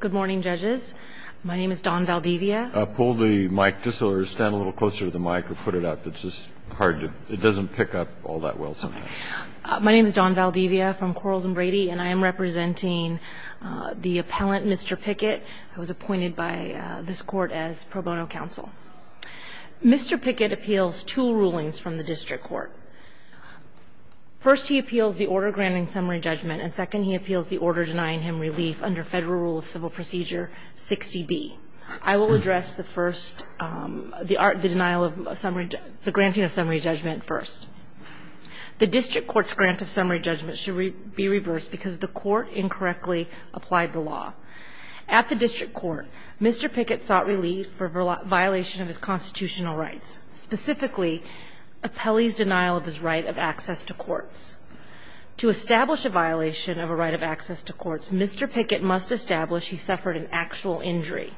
Good morning, judges. My name is Dawn Valdivia. Pull the mic just a little closer to the mic or put it up, it's just hard to, it doesn't pick up all that well sometimes. My name is Dawn Valdivia from Quarles and Brady and I am representing the appellant, Mr. Pickett, who was appointed by this court as pro bono counsel. Mr. Pickett appeals two rulings from the district court. First, he appeals the order granting summary judgment and second, he appeals the order denying him relief under Federal Rule of Civil Procedure 60B. I will address the first, the denial of summary, the granting of summary judgment first. The district court's grant of summary judgment should be reversed because the court incorrectly applied the law. At the district court, Mr. Pickett sought relief for violation of his constitutional rights, specifically appellee's denial of his right of access to courts. To establish a violation of a right of access to courts, Mr. Pickett must establish he suffered an actual injury.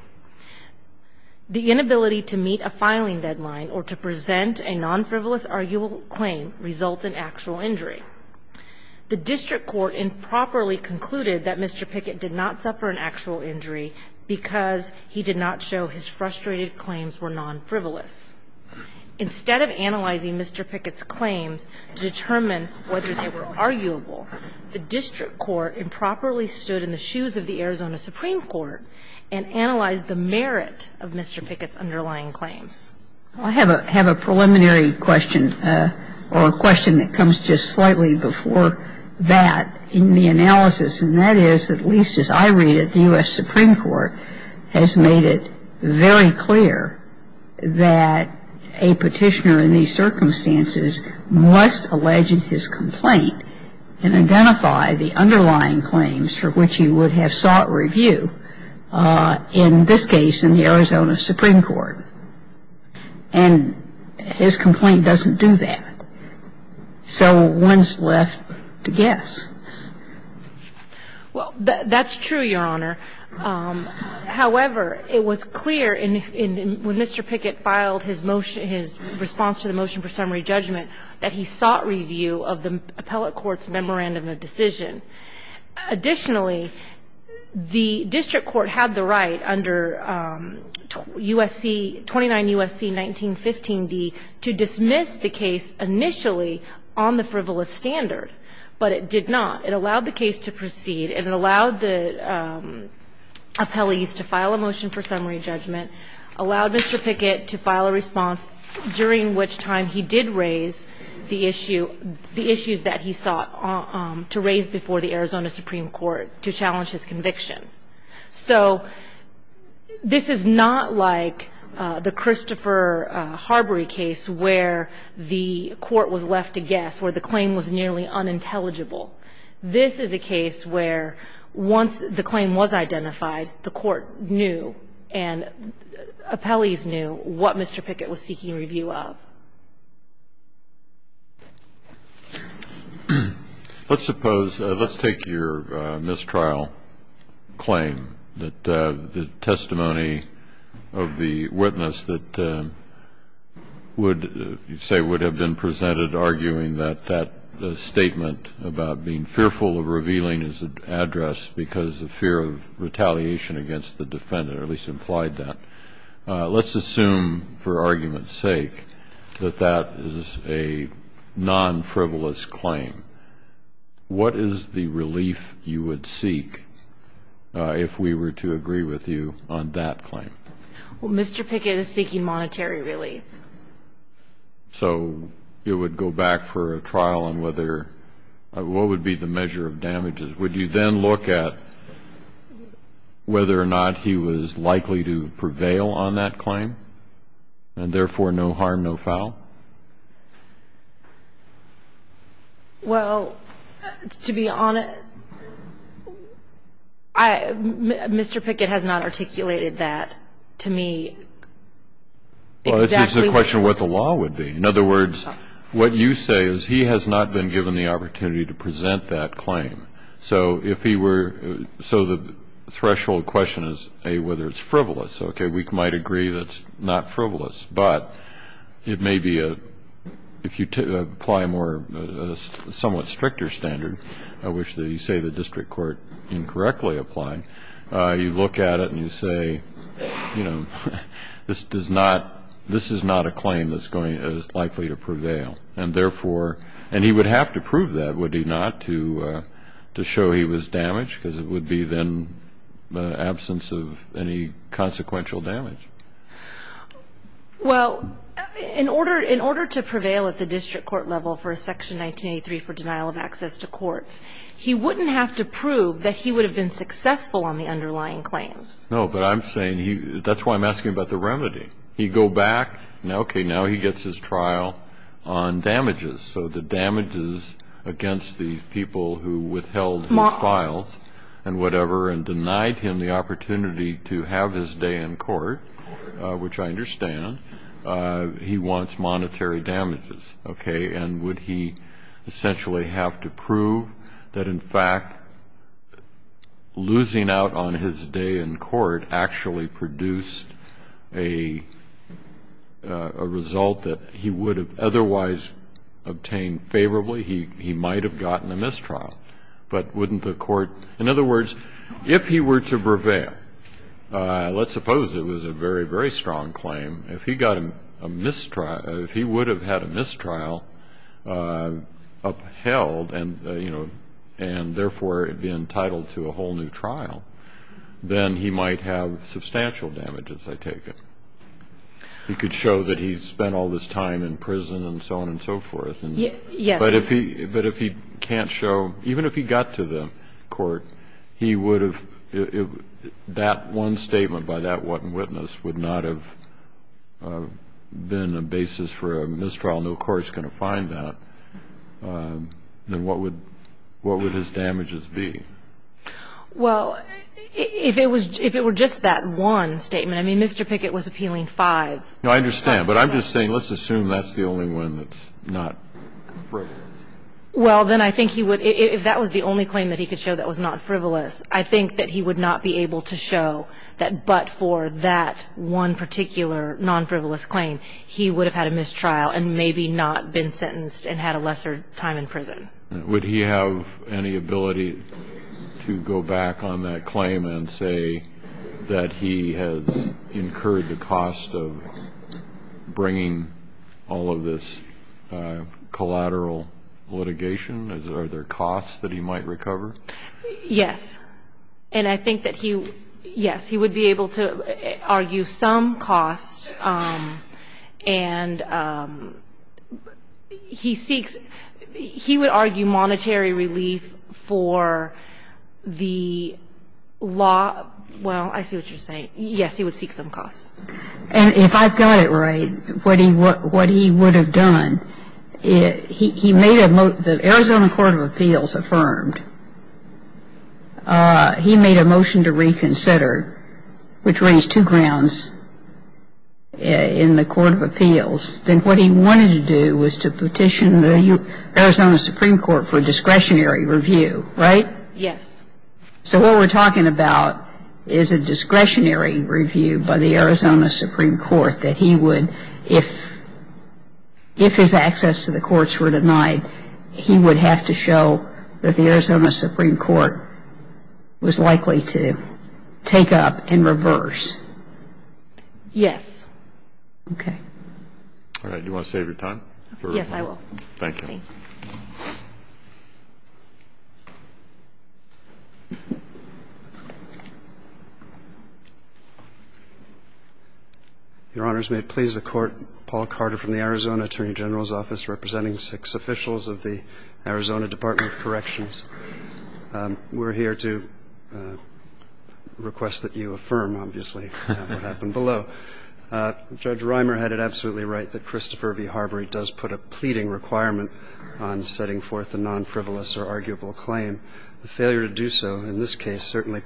The inability to meet a filing deadline or to present a non-frivolous arguable claim results in actual injury. The district court improperly concluded that Mr. Pickett did not suffer an actual injury because he did not show his frustrated claims were non-frivolous. Instead of analyzing Mr. Pickett's claims to determine whether they were arguable, the district court improperly stood in the shoes of the Arizona Supreme Court and analyzed the merit of Mr. Pickett's underlying claims. I have a preliminary question or a question that comes just slightly before that in the analysis. And that is, at least as I read it, the US Supreme Court has made it very clear that a petitioner in these circumstances must allege in his complaint and identify the underlying claims for which he would have sought review, in this case, in the Arizona Supreme Court. And his complaint doesn't do that. So one's left to guess. Well, that's true, Your Honor. However, it was clear when Mr. Pickett filed his response to the motion for summary judgment that he sought review of the appellate court's memorandum of decision. Additionally, the district court had the right under 29 U.S.C. 1915d to dismiss the case initially on the frivolous standard, but it did not. It allowed the case to proceed and it allowed the appellees to file a motion for summary judgment, allowed Mr. Pickett to file a response, during which time he did raise the issue, the issues that he sought to raise before the Arizona Supreme Court to challenge his conviction. So this is not like the Christopher Harbury case where the court was left to guess, where the claim was nearly unintelligible. This is a case where once the claim was identified, the court knew and appellees knew what Mr. Pickett was seeking review of. Let's suppose, let's take your mistrial claim that the testimony of the witness that you say would have been presented arguing that that statement about being fearful of revealing his address because of fear of retaliation against the defendant, or at least implied that. Let's assume for argument's sake that that is a non-frivolous claim. What is the relief you would seek if we were to agree with you on that claim? Well, Mr. Pickett is seeking monetary relief. So it would go back for a trial on whether, what would be the measure of damages? Would you then look at whether or not he was likely to prevail on that claim and therefore no harm, no foul? Well, to be honest, Mr. Pickett has not articulated that to me exactly. Well, it's just a question of what the law would be. In other words, what you say is he has not been given the opportunity to present that claim. So the threshold question is whether it's frivolous. Okay, we might agree that it's not frivolous, but it may be, if you apply a somewhat stricter standard, which you say the district court incorrectly applied, you look at it and you say, this is not a claim that's likely to prevail. And therefore, and he would have to prove that, would he not, to show he was damaged? Because it would be then the absence of any consequential damage. Well, in order to prevail at the district court level for a section 1983 for denial of access to courts, he wouldn't have to prove that he would have been successful on the underlying claims. No, but I'm saying, that's why I'm asking about the remedy. He'd go back, okay, now he gets his trial on damages. So the damages against the people who withheld his files and whatever, and denied him the opportunity to have his day in court, which I understand, he wants monetary damages, okay. And would he essentially have to prove that in fact, losing out on his day in court actually produced a result that he would have otherwise obtained favorably. He might've gotten a mistrial, but wouldn't the court, in other words, if he were to prevail, let's suppose it was a very, very strong claim. If he got a mistrial, if he would have had a mistrial upheld and, you know, and therefore it'd be entitled to a whole new trial, then he might have substantial damages, I take it. He could show that he spent all this time in prison and so on and so forth. Yes. But if he can't show, even if he got to the court, he would have, that one statement by that one witness would not have been a basis for a mistrial. No court's going to find that. Then what would his damages be? Well, if it were just that one statement, I mean, Mr. Pickett was appealing five. No, I understand, but I'm just saying, let's assume that's the only one that's not frivolous. Well, then I think he would, if that was the only claim that he could show that was not frivolous, I think that he would not be able to show that, but for that one particular non-frivolous claim, and had a lesser time in prison. Would he have any ability to go back on that claim and say that he has incurred the cost of bringing all of this collateral litigation? Are there costs that he might recover? Yes. And I think that he, yes, he would be able to argue some costs. And he seeks, he would argue monetary relief for the law. Well, I see what you're saying. Yes, he would seek some costs. And if I've got it right, what he would have done, the Arizona Court of Appeals affirmed, he made a motion to reconsider, which raised two grounds in the Court of Appeals. Then what he wanted to do was to petition the Arizona Supreme Court for discretionary review, right? Yes. So what we're talking about is a discretionary review by the Arizona Supreme Court that he would, if his access to the courts were denied, he would have to show that the Arizona Supreme Court was likely to take up and reverse. Yes. Okay. All right, do you want to save your time? Yes, I will. Thank you. Your Honors, may it please the Court, Paul Carter from the Arizona Attorney General's Office representing six officials of the Arizona Department of Corrections. We're here to request that you affirm, obviously, what happened below. Judge Reimer had it absolutely right that Christopher v. Harbury does put a pleading requirement on setting forth a non-frivolous or arguable claim. The failure to do so in this case certainly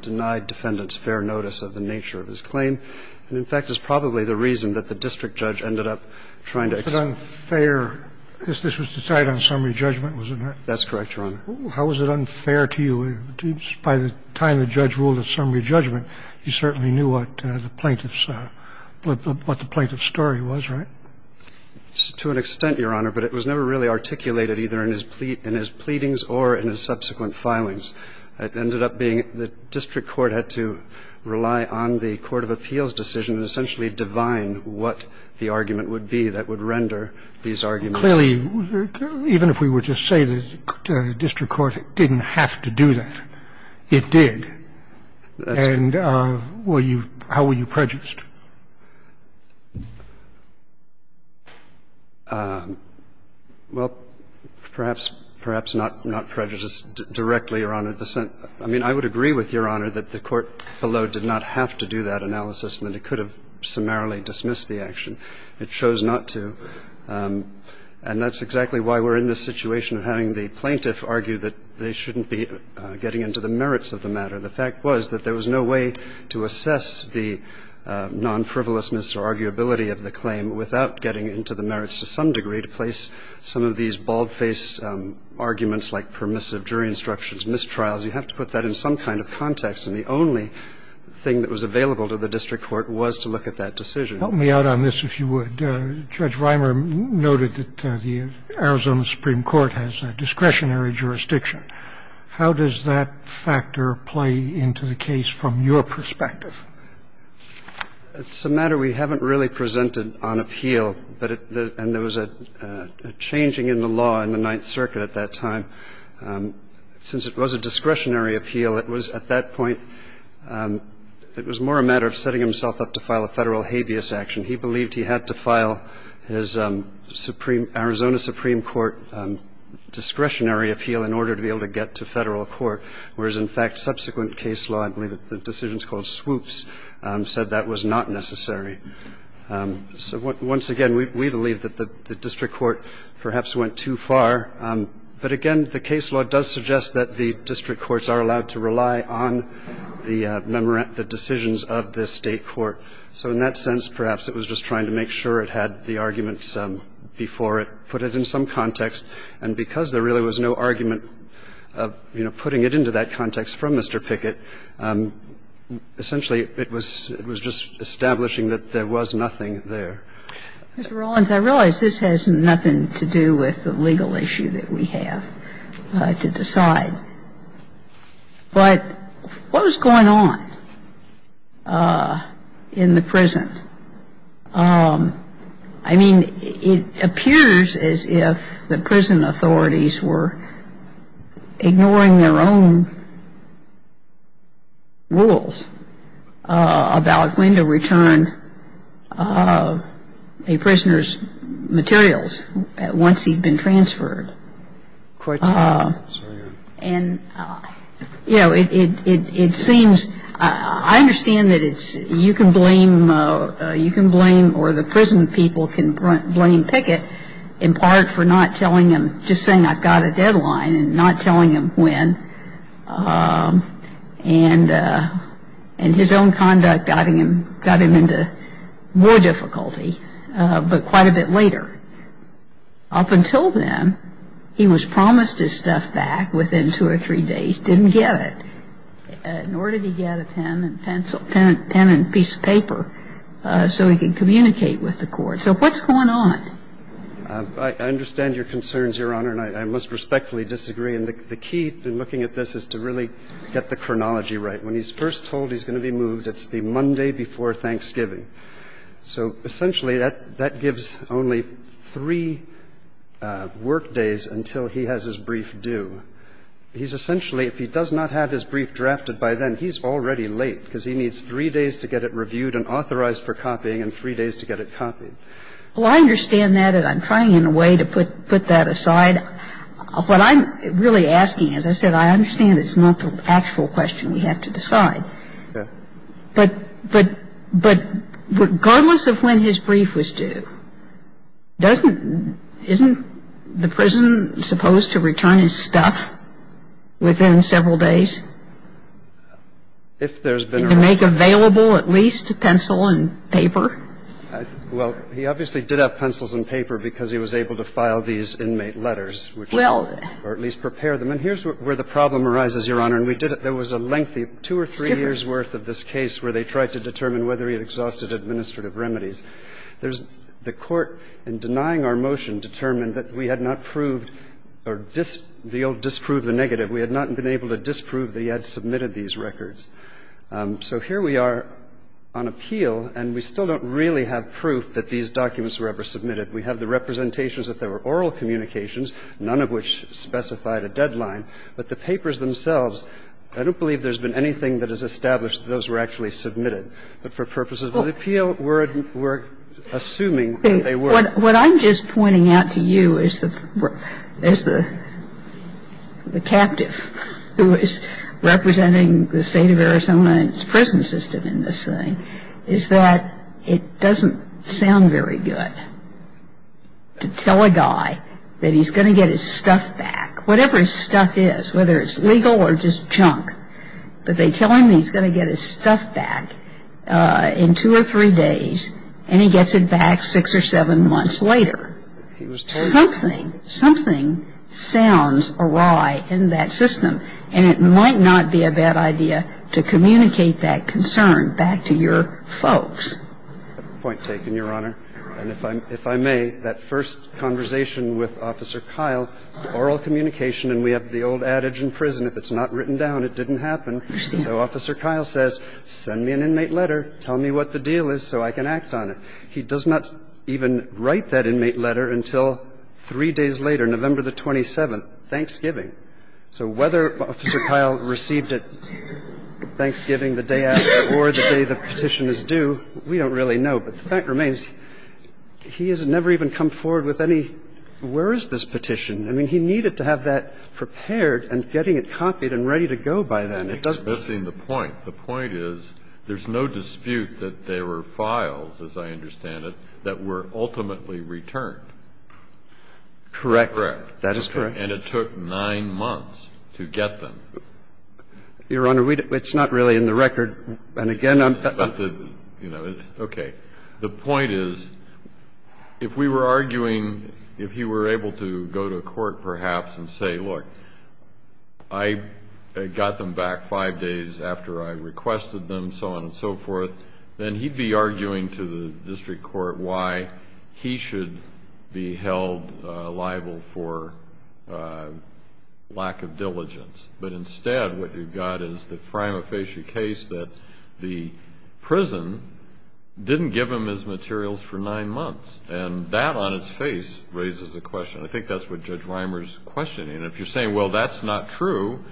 denied defendants fair notice of the nature of his claim, and in fact is probably the reason that the district judge ended up trying to execute. But unfair, this was decided on summary judgment, wasn't it? That's correct. That's correct, Your Honor. How was it unfair to you? By the time the judge ruled a summary judgment, you certainly knew what the plaintiff's story was, right? To an extent, Your Honor, but it was never really articulated either in his pleadings or in his subsequent filings. It ended up being the district court had to rely on the court of appeals decision and essentially divine what the argument would be that would render these arguments. Clearly, even if we were to say that the district court didn't have to do that, it did. And how were you prejudiced? Well, perhaps not prejudiced directly, Your Honor. I mean, I would agree with Your Honor that the court below did not have to do that analysis and that it could have summarily dismissed the action. It chose not to. And that's exactly why we're in this situation of having the plaintiff argue that they shouldn't be getting into the merits of the matter. The fact was that there was no way to assess the non-frivolousness or arguability of the claim without getting into the merits to some degree to place some of these bald-faced arguments like permissive jury instructions, mistrials. You have to put that in some kind of context. And the only thing that was available to the district court was to look at that decision. Help me out on this, if you would. Judge Rimer noted that the Arizona Supreme Court has a discretionary jurisdiction. How does that factor play into the case from your perspective? It's a matter we haven't really presented on appeal, and there was a changing in the law in the Ninth Circuit at that time. Since it was a discretionary appeal, it was at that point it was more a matter of setting himself up to file a Federal habeas action. He believed he had to file his Arizona Supreme Court discretionary appeal in order to be able to get to federal court, whereas, in fact, subsequent case law, I believe the decision's called swoops, said that was not necessary. So once again, we believe that the district court perhaps went too far. But again, the case law does suggest that the district courts are allowed to rely on the decisions of the state court. So in that sense, perhaps it was just trying to make sure it had the arguments before it put it in some context. And because there really was no argument of, you know, putting it into that context from Mr. Pickett, essentially it was just establishing that there was nothing there. Mr. Rollins, I realize this has nothing to do with the legal issue that we have to decide. But what was going on in the prison? I mean, it appears as if the prison authorities were ignoring their own rules about when to return a prisoner's materials once he'd been transferred. And, you know, it seems — I understand that it's — you can blame — you can blame or the prison people can blame Pickett, in part, for not telling him — just saying I've got a deadline and not telling him when. And his own conduct got him into more difficulty, but quite a bit later. Up until then, he was promised his stuff back within two or three days, didn't get it, nor did he get a pen and pencil — pen and piece of paper so he could communicate with the court. So what's going on? I understand your concerns, Your Honor, and I must respectfully disagree. And the key in looking at this is to really get the chronology right. When he's first told he's going to be moved, it's the Monday before Thanksgiving. and then he's told he's going to be moved, it's the next day before Thanksgiving. So essentially, that gives only three workdays until he has his brief due. He's essentially, if he does not have his brief drafted by then, he's already late because he needs three days to get it reviewed and authorized for copying and three days to get it copied. I think it's a question of the time he's in jail, and I think it's a question of the time he's in prison. Well, I understand that, and I'm trying in a way to put that aside. What I'm really asking, as I said, I understand it's not the actual question we have to decide. Yeah. But regardless of when his brief was due, doesn't — isn't the prison supposed to return his stuff within several days? If there's been a — To make available at least pencil and paper? Well, he obviously did have pencils and paper because he was able to file these inmate letters, or at least prepare them. And here's where the problem arises, Your Honor. And we did — there was a lengthy two or three years' worth of this case where they tried to determine whether he had exhausted administrative remedies. The court, in denying our motion, determined that we had not proved or disproved the negative. We had not been able to disprove that he had submitted these records. So here we are on appeal, and we still don't really have proof that these documents were ever submitted. We have the representations that there were oral communications, none of which specified a deadline. But the papers themselves, I don't believe there's been anything that has established that those were actually submitted. But for purposes of appeal, we're assuming that they were. What I'm just pointing out to you as the captive who is representing the state of Arizona and its prison system in this thing is that it doesn't sound very good to tell a guy that he's going to get his stuff back, whatever his stuff is, whether it's legal or just junk. back, whatever his stuff is, whether it's legal or just junk. But they tell him he's going to get his stuff back in two or three days, and he gets it back six or seven months later. Something, something sounds awry in that system, and it might not be a bad idea to communicate that concern back to your folks. I think that's a point taken, Your Honor. And if I may, that first conversation with Officer Kyle, oral communication and we have the old adage in prison, if it's not written down, it didn't happen. So Officer Kyle says, send me an inmate letter, tell me what the deal is so I can act on it. He does not even write that inmate letter until three days later, November the 27th, Thanksgiving. So whether Officer Kyle received it Thanksgiving the day after or the day the petition is due, we don't really know. But the fact remains, he has never even come forward with any, where is this petition? I mean, he needed to have that prepared and getting it copied and ready to go by then. It doesn't ---- It's missing the point. The point is there's no dispute that there were files, as I understand it, that were ultimately returned. Correct. Correct. That is correct. And it took nine months to get them. Your Honor, it's not really in the record. And again, I'm ---- You know, okay. The point is, if we were arguing, if he were able to go to court perhaps and say, look, I got them back five days after I requested them, so on and so forth, then he'd be arguing to the district court why he should be held liable for lack of diligence. But instead, what you've got is the prima facie case that the prison didn't give him his materials for nine months. And that on its face raises a question. I think that's what Judge Rimer's questioning. And if you're saying, well, that's not true,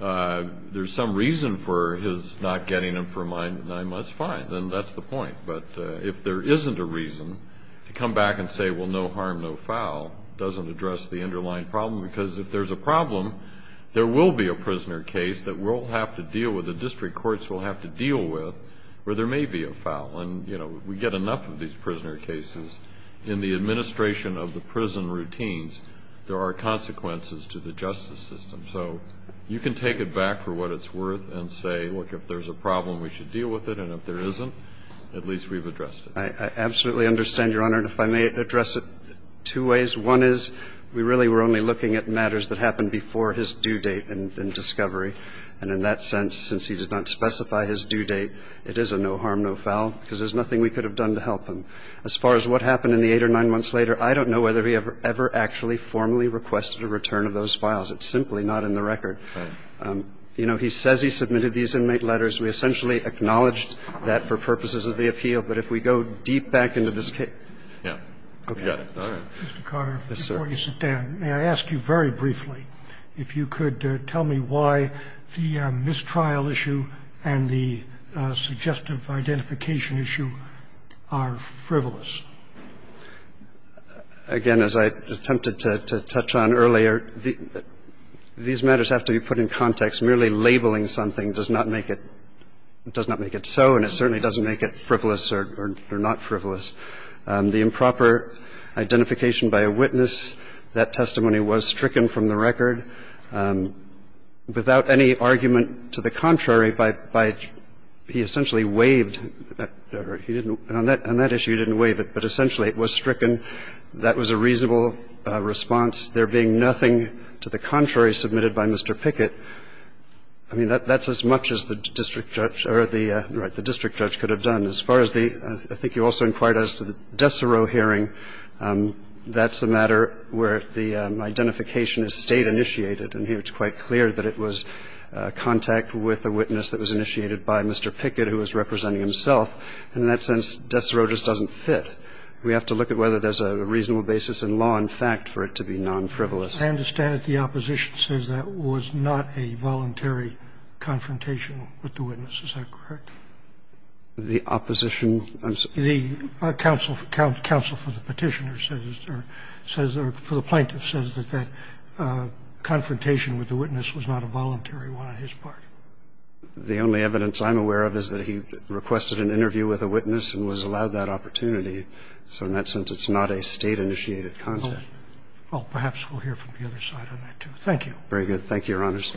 there's some reason for his not getting them for nine months, fine. Then that's the point. But if there isn't a reason to come back and say, well, no harm, no foul, doesn't address the underlying problem. Because if there's a problem, there will be a prisoner case that we'll have to deal with, the district courts will have to deal with, where there may be a foul. And, you know, we get enough of these prisoner cases in the administration of the prison routines, there are consequences to the justice system. So you can take it back for what it's worth and say, look, if there's a problem, we should deal with it. And if there isn't, at least we've addressed it. I absolutely understand, Your Honor. And if I may address it two ways. One is, we really were only looking at matters that happened before his due date in discovery. And in that sense, since he did not specify his due date, it is a no harm, no foul, because there's nothing we could have done to help him. As far as what happened in the eight or nine months later, I don't know whether he ever actually formally requested a return of those files. It's simply not in the record. You know, he says he submitted these inmate letters. We essentially acknowledged that for purposes of the appeal. But if we go deep back into this case. I'm going to ask you, Mr. Carter, before you sit down, may I ask you very briefly if you could tell me why the mistrial issue and the suggestive identification issue are frivolous? Again, as I attempted to touch on earlier, these matters have to be put in context. Merely labeling something does not make it so, and it certainly doesn't make it frivolous or not frivolous. The improper identification by a witness, that testimony was stricken from the record. Without any argument to the contrary, by he essentially waived, he didn't, on that issue he didn't waive it, but essentially it was stricken. That was a reasonable response. There being nothing to the contrary submitted by Mr. Pickett, I mean, that's as much as the district judge or the, right, the district judge could have done. And as far as the, I think you also inquired as to the Desereau hearing, that's a matter where the identification is State-initiated, and here it's quite clear that it was contact with a witness that was initiated by Mr. Pickett who was representing himself. And in that sense, Desereau just doesn't fit. We have to look at whether there's a reasonable basis in law and fact for it to be non-frivolous. I understand the opposition says that was not a voluntary confrontation with the witness. Is that correct? The opposition? I'm sorry. The counsel for the petitioner says, or for the plaintiff, says that that confrontation with the witness was not a voluntary one on his part. The only evidence I'm aware of is that he requested an interview with a witness and was allowed that opportunity. So in that sense, it's not a State-initiated contact. Well, perhaps we'll hear from the other side on that, too. Thank you. Very good. Thank you, Your Honors.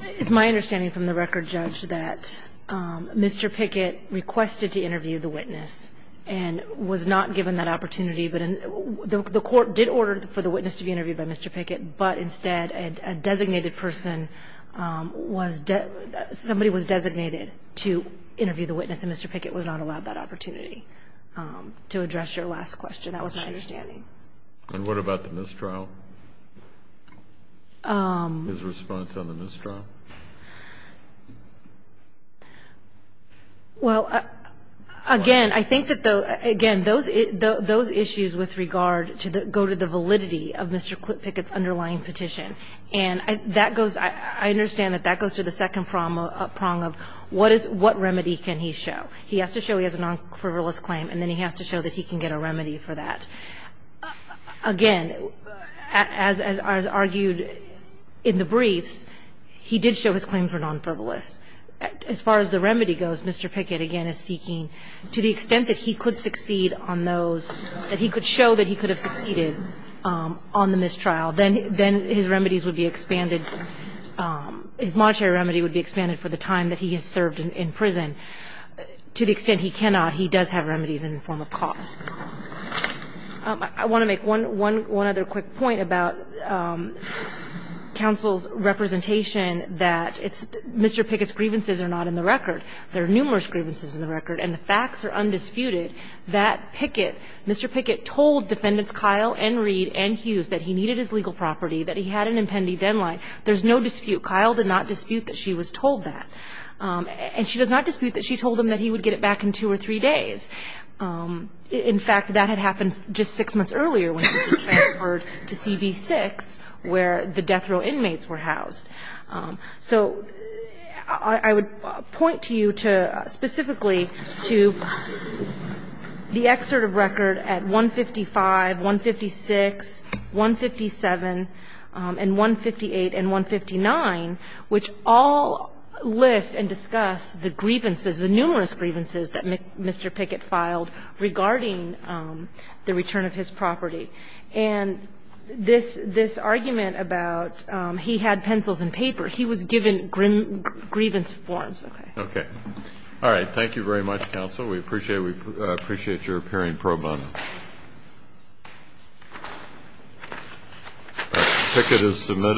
It's my understanding from the record, Judge, that Mr. Pickett requested to interview the witness and was not given that opportunity. But the Court did order for the witness to be interviewed by Mr. Pickett, but instead a designated person was – somebody was designated to interview the witness, and Mr. Pickett was not allowed that opportunity. To address your last question, that was my understanding. And what about the mistrial? His response on the mistrial? Well, again, I think that, again, those issues with regard to the – go to the validity of Mr. Pickett's underlying petition. And that goes – I understand that that goes to the second prong of what remedy can he show? He has to show he has a non-frivolous claim, and then he has to show that he can get a remedy for that. Again, as argued in the briefs, he did show his claim for non-frivolous. As far as the remedy goes, Mr. Pickett, again, is seeking – to the extent that he could succeed on those – that he could show that he could have succeeded on the mistrial, then his remedies would be expanded – his monetary remedy would be expanded for the time that he has served in prison. To the extent he cannot, he does have remedies in the form of costs. I want to make one other quick point about counsel's representation that it's – Mr. Pickett's grievances are not in the record. There are numerous grievances in the record, and the facts are undisputed that Pickett – Mr. Pickett told Defendants Kyle and Reed and Hughes that he needed his legal property, that he had an impending deadline. There's no dispute. Kyle did not dispute that she was told that. And she does not dispute that she told him that he would get it back in two or three days. In fact, that had happened just six months earlier when he was transferred to CB-6, where the death row inmates were housed. So I would point to you to – specifically to the excerpt of record at 155, 156, 157, and 158, and 159, which all list and discuss the grievances, the numerous grievances that Mr. Pickett filed regarding the return of his property. And this argument about he had pencils and paper, he was given grievance forms. Okay. Okay. All right. Thank you very much, counsel. We appreciate your appearing pro bono. Pickett is submitted.